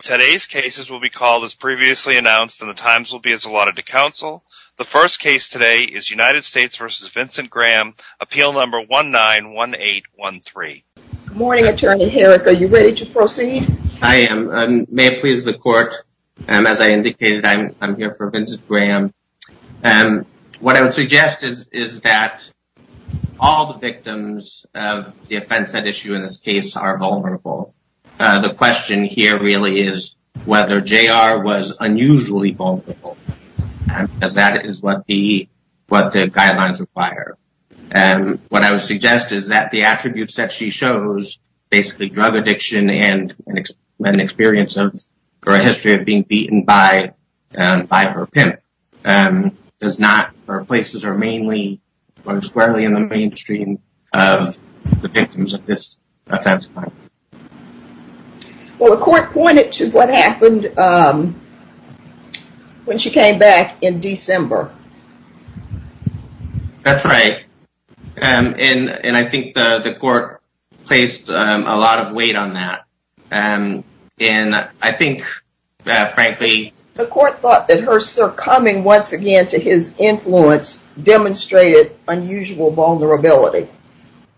Today's cases will be called as previously announced and the times will be as allotted to counsel. The first case today is United States v. Vincent Graham, appeal number 191813. Good morning, Attorney Herrick. Are you ready to proceed? I am. May it please the court, as I indicated, I'm here for Vincent Graham. What I would suggest is that all the victims of the offense at issue in this case are vulnerable. The question here really is whether J.R. was unusually vulnerable, as that is what the guidelines require. What I would suggest is that the attributes that she shows, basically drug addiction and an experience of, or a history of being beaten by her pimp, does not, her places are mainly or squarely in the mainstream of the victims of this offense. Well, the court pointed to what happened when she came back in December. That's right. And I think the court placed a lot of weight on that. And I think, frankly, the court thought that her succumbing once again to his influence demonstrated unusual vulnerability.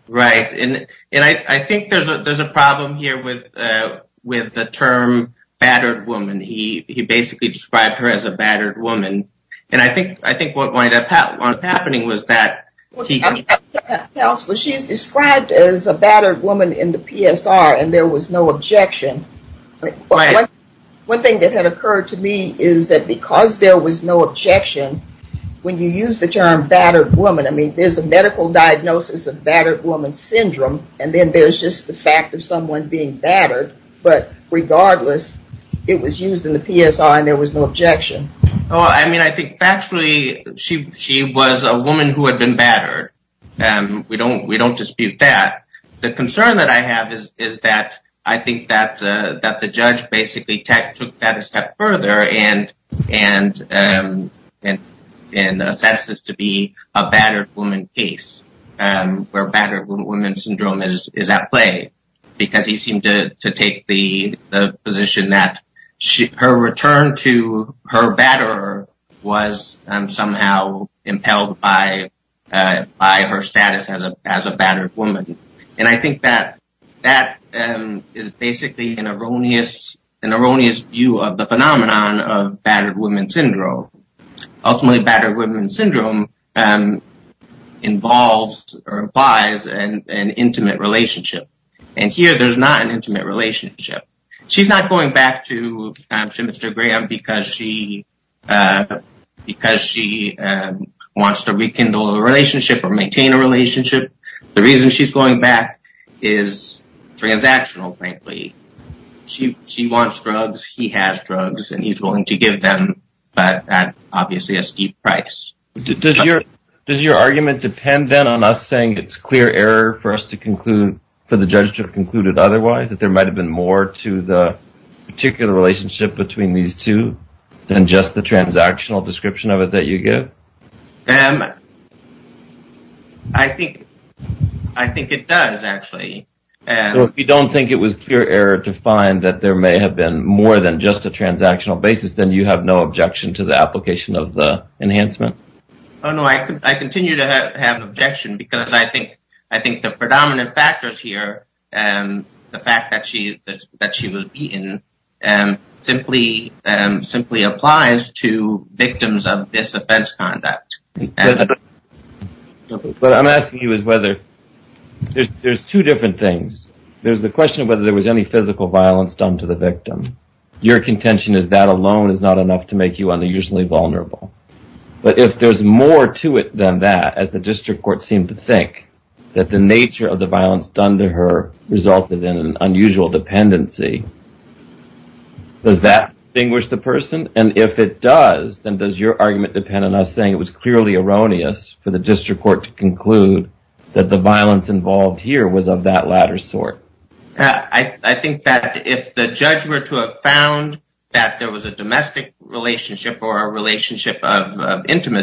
Right. And I think there's a problem here with the term battered woman. He basically described her as a battered woman. And I think what wound up happening was that... She's described as a battered woman in the PSR and there was no objection. One thing that had occurred to me is that because there was no objection, when you use the term battered woman, I mean, there's a medical diagnosis of battered woman syndrome, and then there's just the fact of someone being battered. But regardless, it was used in the PSR and there was no objection. Oh, I mean, I think factually, she was a woman who had been battered. We don't dispute that. The concern that I have is that I think that the judge basically took that a step further and assessed this to be a battered woman case, where battered woman syndrome is at play, because he seemed to take the position that her return to her batterer was somehow impelled by her status as a battered woman. And I think that that is basically an erroneous view of the phenomenon of battered woman syndrome. Ultimately, battered woman syndrome involves or implies an intimate relationship. And here, there's not an intimate relationship. She's not going back to Mr. Graham because she wants to rekindle the relationship or maintain a relationship. The reason she's going back is transactional, frankly. She wants drugs, he has drugs, and he's willing to give them, but at obviously a steep price. Does your argument depend then on us saying it's clear error for us to conclude, for the judge to have concluded otherwise, that there might have been more to the particular relationship between these two than just the transactional description of it that you give? I think it does, actually. So if you don't think it was clear error to find that there may have been more than just a transactional basis, then you have no objection to the application of the enhancement? Oh, no, I continue to have an objection because I think the predominant factors and the fact that she was beaten simply applies to victims of this offense conduct. What I'm asking you is whether there's two different things. There's the question of whether there was any physical violence done to the victim. Your contention is that alone is not enough to make you unusually vulnerable. But if there's more to it than that, as the district violence done to her resulted in an unusual dependency, does that distinguish the person? And if it does, then does your argument depend on us saying it was clearly erroneous for the district court to conclude that the violence involved here was of that latter sort? I think that if the judge were to have found that there was a domestic relationship or a relationship of a return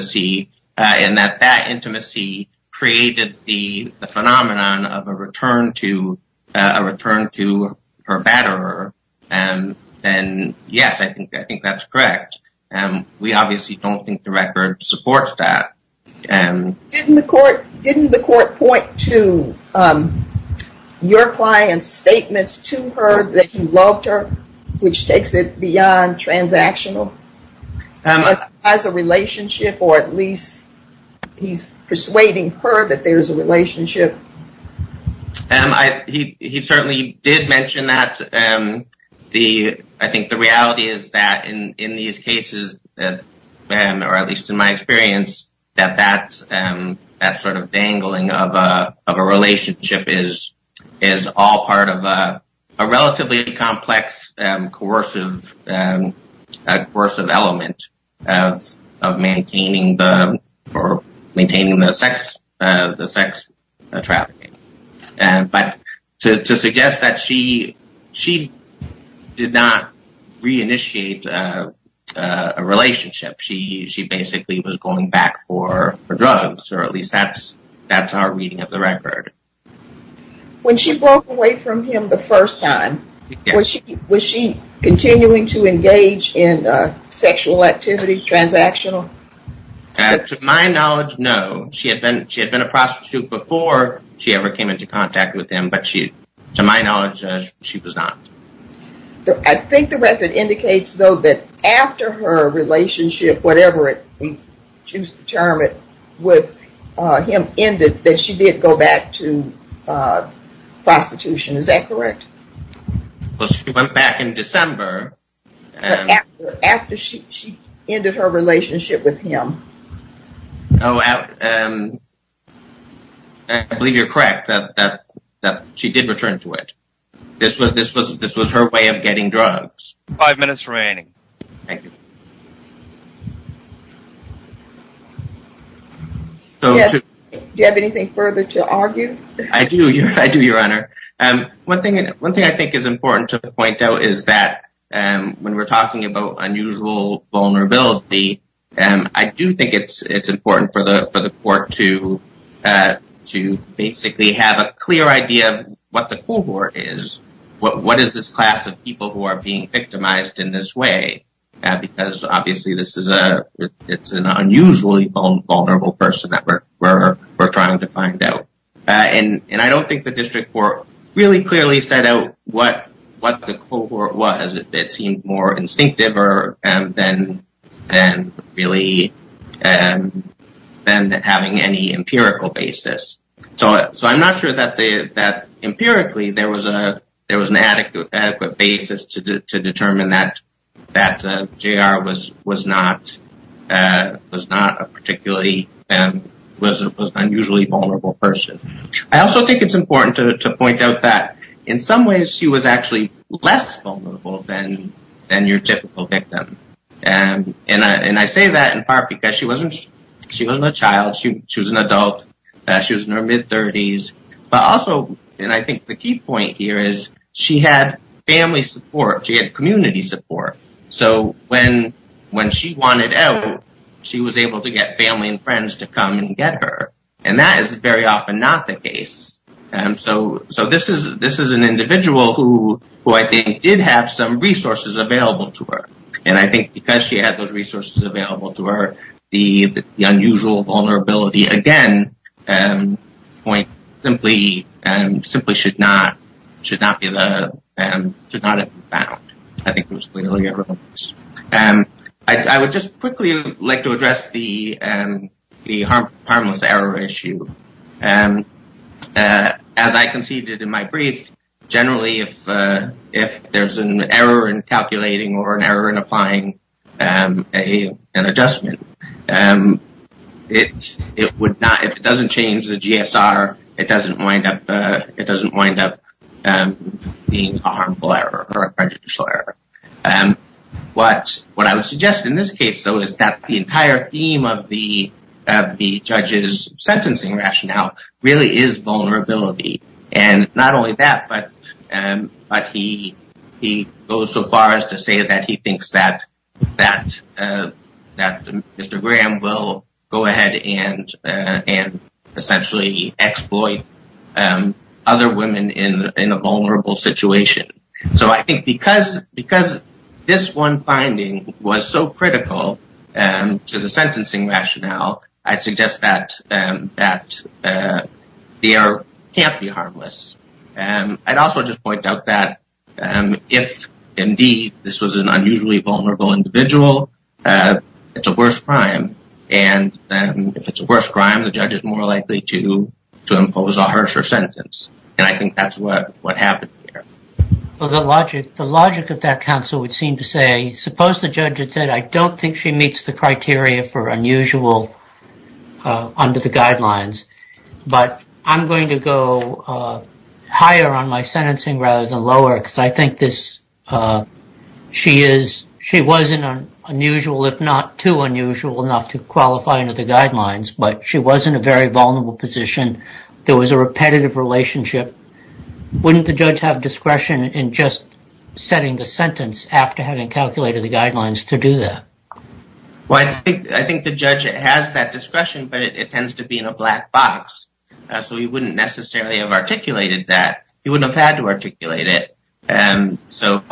to her batterer, then yes, I think that's correct. We obviously don't think the record supports that. Didn't the court point to your client's statements to her that he loved her, which takes it beyond transactional? As a relationship or at least he's persuading her that there's a relationship. He certainly did mention that. I think the reality is that in these cases, or at least in my experience, that that sort of dangling of a relationship is all part of a relatively complex coercive element of maintaining the sex trafficking. But to suggest that she did not reinitiate a relationship. She basically was going back for drugs, or at least that's our reading of the record. When she broke away from him the first time, was she continuing to engage in sexual activity, transactional? To my knowledge, no. She had been a prostitute before she ever came into contact with him, but to my knowledge, she was not. I think the record indicates, though, that after her relationship, whatever she was determined with him ended, that she did go back to prostitution. Is that correct? Well, she went back in December. After she ended her relationship with him. Oh, I believe you're correct that she did return to it. This was her way of getting drugs. Five minutes remaining. Do you have anything further to argue? I do. I do, Your Honor. One thing I think is important to point out is that when we're talking about unusual vulnerability, I do think it's important for the court to basically have a clear idea of what the cohort is. What is this class of people who are being victimized in this way? Because obviously, it's an unusually vulnerable person that we're trying to find out. I don't think the district court really clearly set out what the cohort was. It seemed more instinctive than having any empirical basis. So I'm not sure that empirically, there was an adequate basis to determine that J.R. was not a particularly unusually vulnerable person. I also think it's important to point out that in some ways, she was actually less vulnerable than your typical victim. And I say that in part because she wasn't a child. She was an adult. She was in her mid-30s. But also, and I think the key point here is she had family support. She had community support. So when she wanted out, she was able to get family and friends to come and get her. And that is very often not the case. And so this is an individual who I think did have some resources available to her. And I think because she had those resources available to her, the unusual vulnerability, again, simply should not have been found. I would just quickly like to address the harmless error issue. As I conceded in my brief, generally, if there's an error in calculating or error in applying an adjustment, if it doesn't change the GSR, it doesn't wind up being a harmful error or a prejudicial error. What I would suggest in this case, though, is that the entire theme of the judge's sentencing rationale really is vulnerability. And not only that, but he goes so far as to say that he thinks that Mr. Graham will go ahead and essentially exploit other women in a vulnerable situation. So I think because this one finding was so critical to the sentencing rationale, I suggest that the error can't be harmless. And I'd also just point out that if, indeed, this was an unusually vulnerable individual, it's a worse crime. And if it's a worse crime, the judge is more likely to impose a harsher sentence. And I think that's what happened here. Well, the logic of that counsel would seem to say, suppose the judge had said, I don't think she meets the criteria for unusual under the guidelines, but I'm going to go higher on my sentencing rather than lower, because I think she wasn't unusual, if not too unusual enough to qualify under the guidelines, but she was in a very vulnerable position. There was a repetitive relationship. Wouldn't the judge have discretion in just setting the sentence after having calculated the guidelines to do that? Well, I think the judge has that discretion, but it tends to be in a black box. So he wouldn't necessarily have articulated that. He wouldn't have had to articulate it. So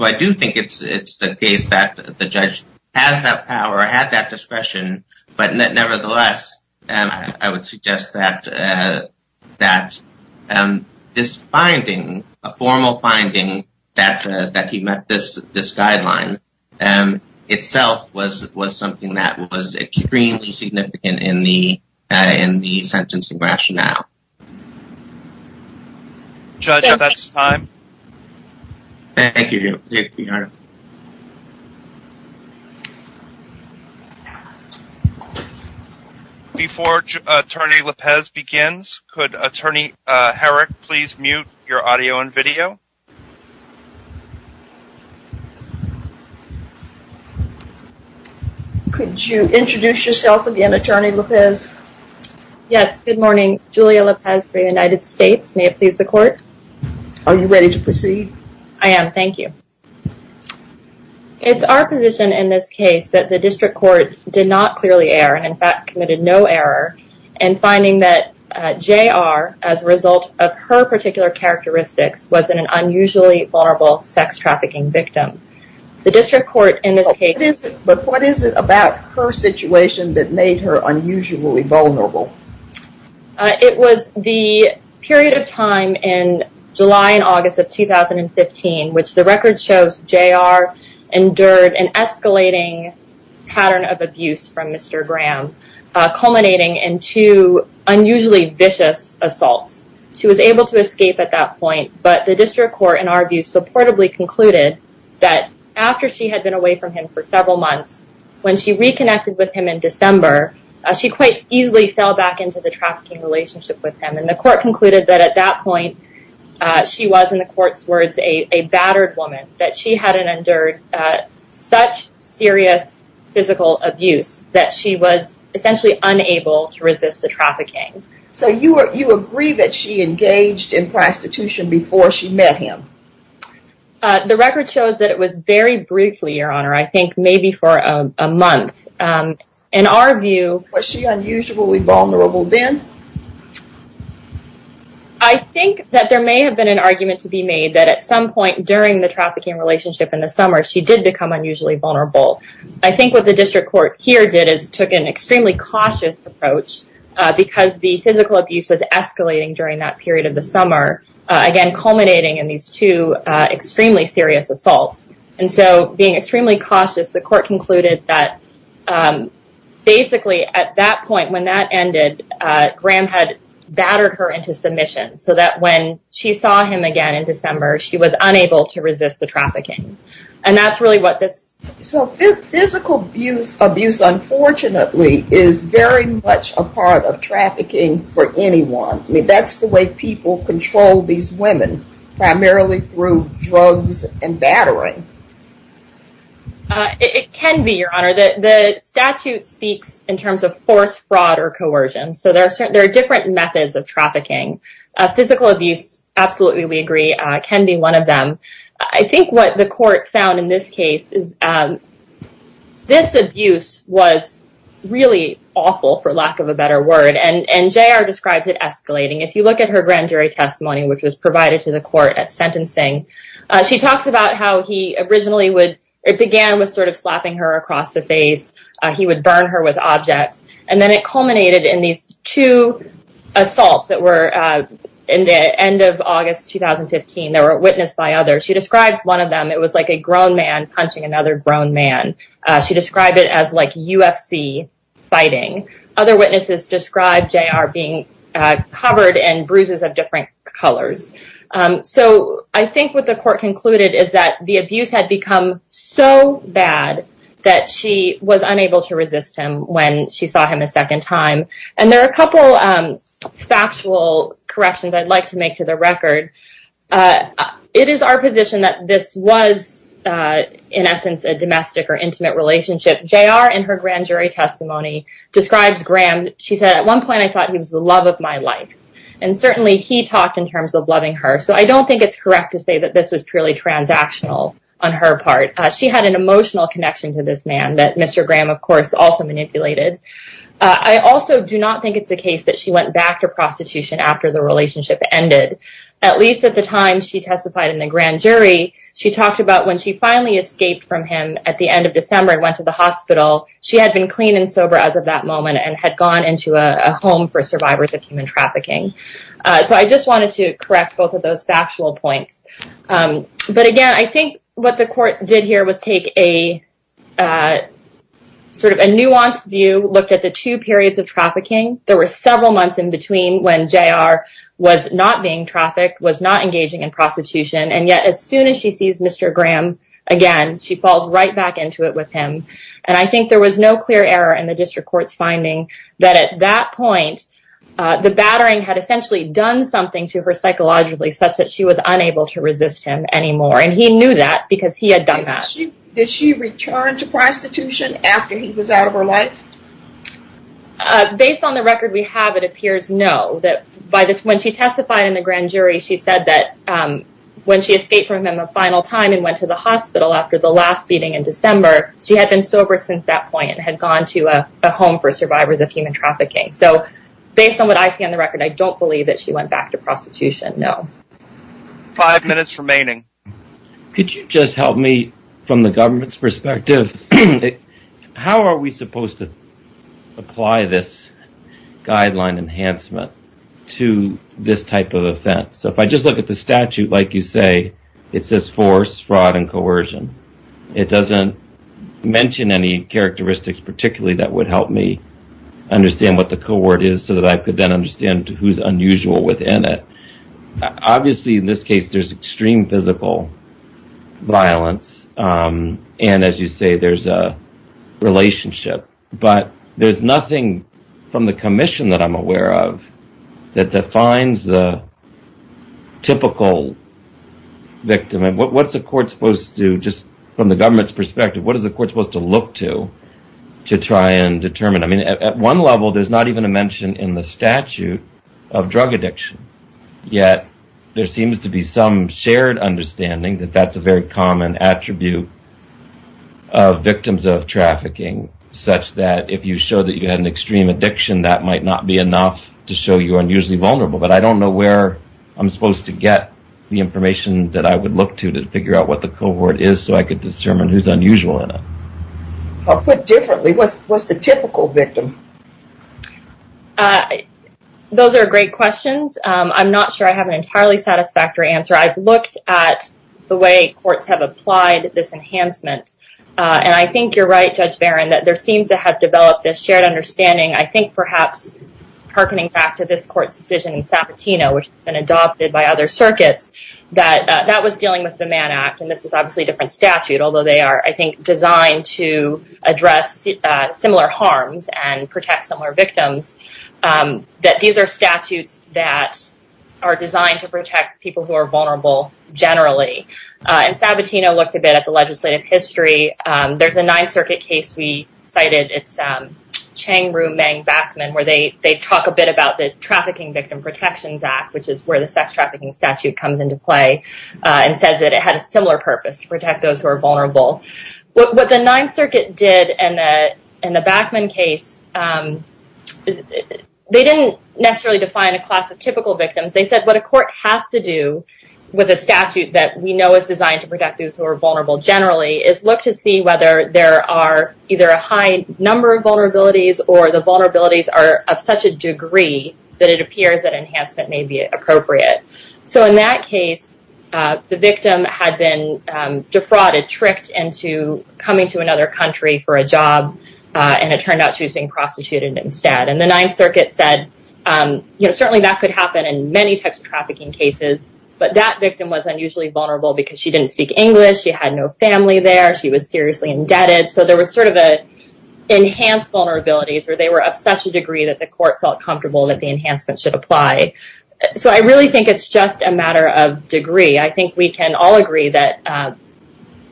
I do think it's the case that the judge has that power, had that discretion. But nevertheless, I would suggest that this finding, a formal finding, that he met this rationale. Judge, if that's time. Thank you. Before Attorney Lopez begins, could Attorney Herrick please mute your audio and video? Could you introduce yourself again, Attorney Lopez? Yes. Good morning. Julia Lopez for the United States. May it please the court? Are you ready to proceed? I am. Thank you. It's our position in this case that the district court did not clearly err, and in fact, committed no error in finding that J.R., as a result of her particular characteristics, was an unusually vulnerable sex trafficking victim. The district court in this case... It was the period of time in July and August of 2015, which the record shows J.R. endured an escalating pattern of abuse from Mr. Graham, culminating in two unusually vicious assaults. She was able to escape at that point, but the district court, in our view, supportably concluded that after she had been away from him for several months, when she reconnected with him in December, she quite easily fell back into the trafficking relationship with him, and the court concluded that at that point, she was, in the court's words, a battered woman, that she hadn't endured such serious physical abuse that she was essentially unable to resist the trafficking. So you agree that she engaged in prostitution before she met him? The record shows that it was very briefly, Your Honor, I think maybe for a month. In our view... Was she unusually vulnerable then? I think that there may have been an argument to be made that at some point during the trafficking relationship in the summer, she did become unusually vulnerable. I think what the district court here did is took an extremely cautious approach, because the physical abuse was extremely serious assaults, and so being extremely cautious, the court concluded that basically at that point, when that ended, Graham had battered her into submission, so that when she saw him again in December, she was unable to resist the trafficking, and that's really what this... So physical abuse, unfortunately, is very much a part of trafficking for anyone. I mean, that's the way people control these women, primarily through drugs and battering. It can be, Your Honor. The statute speaks in terms of forced fraud or coercion, so there are different methods of trafficking. Physical abuse, absolutely, we agree, can be one of them. I think what the court found in this case is this abuse was really awful, for lack of a better word, and J.R. describes it escalating. If you look at her grand jury testimony, which was provided to the court at sentencing, she talks about how he originally would... It began with sort of slapping her across the face. He would burn her with objects, and then it culminated in these two assaults that were in the end of August 2015 that were witnessed by others. She describes one of them, it was like a grown man punching another grown man. She described it as like UFC fighting. Other witnesses described J.R. being covered in bruises of different colors. So I think what the court concluded is that the abuse had become so bad that she was unable to resist him when she saw him a second time. And there are a couple factual corrections I'd like to make to the record. It is our position that this was, in essence, a domestic or intimate relationship. J.R. in her grand jury testimony describes Graham. She said, at one point, I thought he was the love of my life. And certainly, he talked in terms of loving her. So I don't think it's correct to say that this was purely transactional on her part. She had an emotional connection to this man that Mr. Graham, of course, also manipulated. I also do not think it's the case that she went back to prostitution after the relationship ended. At least at the time she testified in the grand jury, she talked about when she finally escaped from him at the end of December and went to the hospital, she had been clean and sober as of that moment and had gone into a home for survivors of human trafficking. So I just wanted to correct both of those factual points. But again, I think what the court did here was take a nuanced view, looked at the two periods of trafficking. There were several months in J.R. was not being trafficked, was not engaging in prostitution. And yet, as soon as she sees Mr. Graham again, she falls right back into it with him. And I think there was no clear error in the district court's finding that at that point, the battering had essentially done something to her psychologically such that she was unable to resist him anymore. And he knew that because he had done that. Did she return to prostitution after he was out of her life? Based on the record we have, it appears no. When she testified in the grand jury, she said that when she escaped from him the final time and went to the hospital after the last beating in December, she had been sober since that point and had gone to a home for survivors of human trafficking. So based on what I see on the record, I don't believe that she went back to prostitution. No. Five minutes remaining. Could you just help me from the government's perspective? How are we supposed to apply this guideline enhancement to this type of offense? So if I just look at the statute, like you say, it says force, fraud and coercion. It doesn't mention any characteristics particularly that would help me understand what the cohort is so that I could then understand who's unusual within it. Obviously, in this case, there's extreme physical violence. And as you say, there's a but there's nothing from the commission that I'm aware of that defines the typical victim. And what's the court supposed to do just from the government's perspective? What is the court supposed to look to to try and determine? I mean, at one level, there's not even a mention in the statute of drug addiction. Yet there seems to be some shared understanding that that's a very if you show that you had an extreme addiction, that might not be enough to show you unusually vulnerable. But I don't know where I'm supposed to get the information that I would look to to figure out what the cohort is so I could determine who's unusual in it. Put differently, what's the typical victim? Those are great questions. I'm not sure I have an entirely satisfactory answer. I've looked at the way courts have applied this enhancement. And I think you're right, Judge Barron, that there seems to have developed this shared understanding, I think, perhaps, hearkening back to this court's decision in Sabatino, which has been adopted by other circuits, that that was dealing with the Mann Act. And this is obviously a different statute, although they are, I think, designed to address similar harms and protect similar victims. That these are statutes that are designed to protect people who are vulnerable, generally. And Sabatino looked a bit at the legislative history. There's a Ninth Circuit case we cited. It's Chang-Ru Meng Backman, where they talk a bit about the Trafficking Victim Protections Act, which is where the sex trafficking statute comes into play, and says that it had a similar purpose to protect those who are vulnerable. What the Ninth Circuit did in the Backman case, they didn't necessarily define a class of typical statute that we know is designed to protect those who are vulnerable, generally, is look to see whether there are either a high number of vulnerabilities, or the vulnerabilities are of such a degree that it appears that enhancement may be appropriate. So in that case, the victim had been defrauded, tricked into coming to another country for a job, and it turned out she was being prostituted instead. And the Ninth Circuit said, you know, certainly that could happen in many types of trafficking cases, but that victim was unusually vulnerable because she didn't speak English, she had no family there, she was seriously indebted. So there was sort of an enhanced vulnerability, so they were of such a degree that the court felt comfortable that the enhancement should apply. So I really think it's just a matter of degree. I think we can all agree that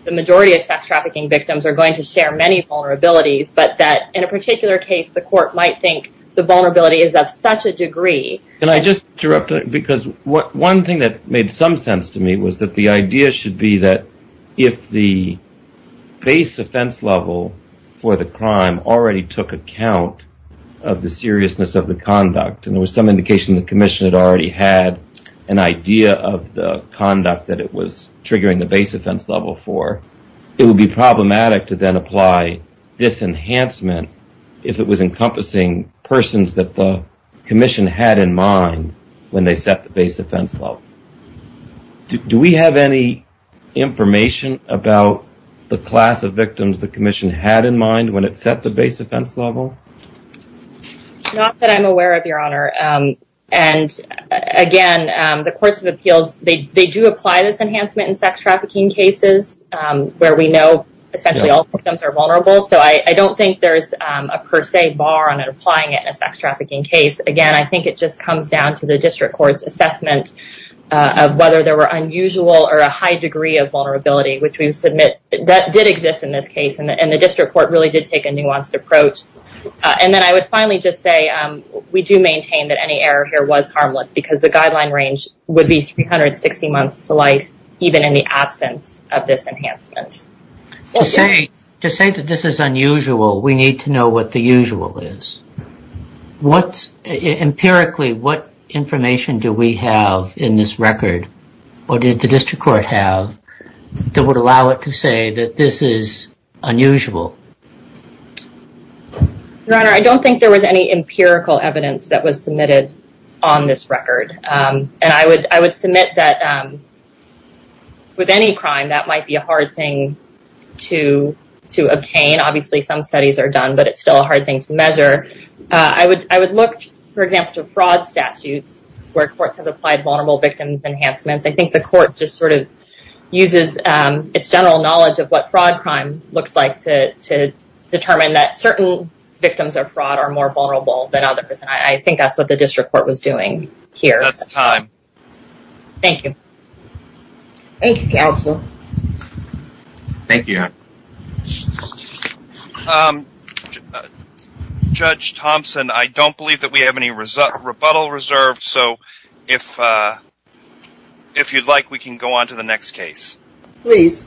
the majority of sex trafficking victims are going to share many vulnerabilities, but that in a particular case, the court might think the vulnerability is of such a degree. Can I just interrupt? Because one thing that made some sense to me was that the idea should be that if the base offense level for the crime already took account of the seriousness of the conduct, and there was some indication the commission had already had an idea of the conduct that it was triggering the base offense level for, it would be problematic to then apply this enhancement if it was encompassing persons that the commission had in mind when they set the base offense level. Do we have any information about the class of victims the commission had in mind when it set the base offense level? Not that I'm aware of, Your Honor. And again, the courts of appeals, they do apply this enhancement in sex trafficking cases, where we know essentially all victims are vulnerable. So I don't think there's a per se bar on applying it in a sex trafficking case. Again, I think it just comes down to the district court's assessment of whether there were unusual or a high degree of vulnerability, which we submit that did exist in this case. And the district court really did take a nuanced approach. And then I would finally just say, we do maintain that any error here was harmless, because the guideline range would be 360 months to life, even in the absence of this enhancement. To say that this is unusual, we need to know what the usual is. Empirically, what information do we have in this record? Or did the district court have that would allow it to say that this is unusual? Your Honor, I don't think there was any And I would submit that with any crime, that might be a hard thing to obtain. Obviously, some studies are done, but it's still a hard thing to measure. I would look, for example, to fraud statutes, where courts have applied vulnerable victims enhancements. I think the court just sort of uses its general knowledge of what fraud crime looks like to determine that certain victims of fraud are more vulnerable than others. And I think that's what the district court was doing here. That's time. Thank you. Thank you, counsel. Thank you, Your Honor. Judge Thompson, I don't believe that we have any rebuttal reserved. So if you'd like, we can go on to the next case. Please.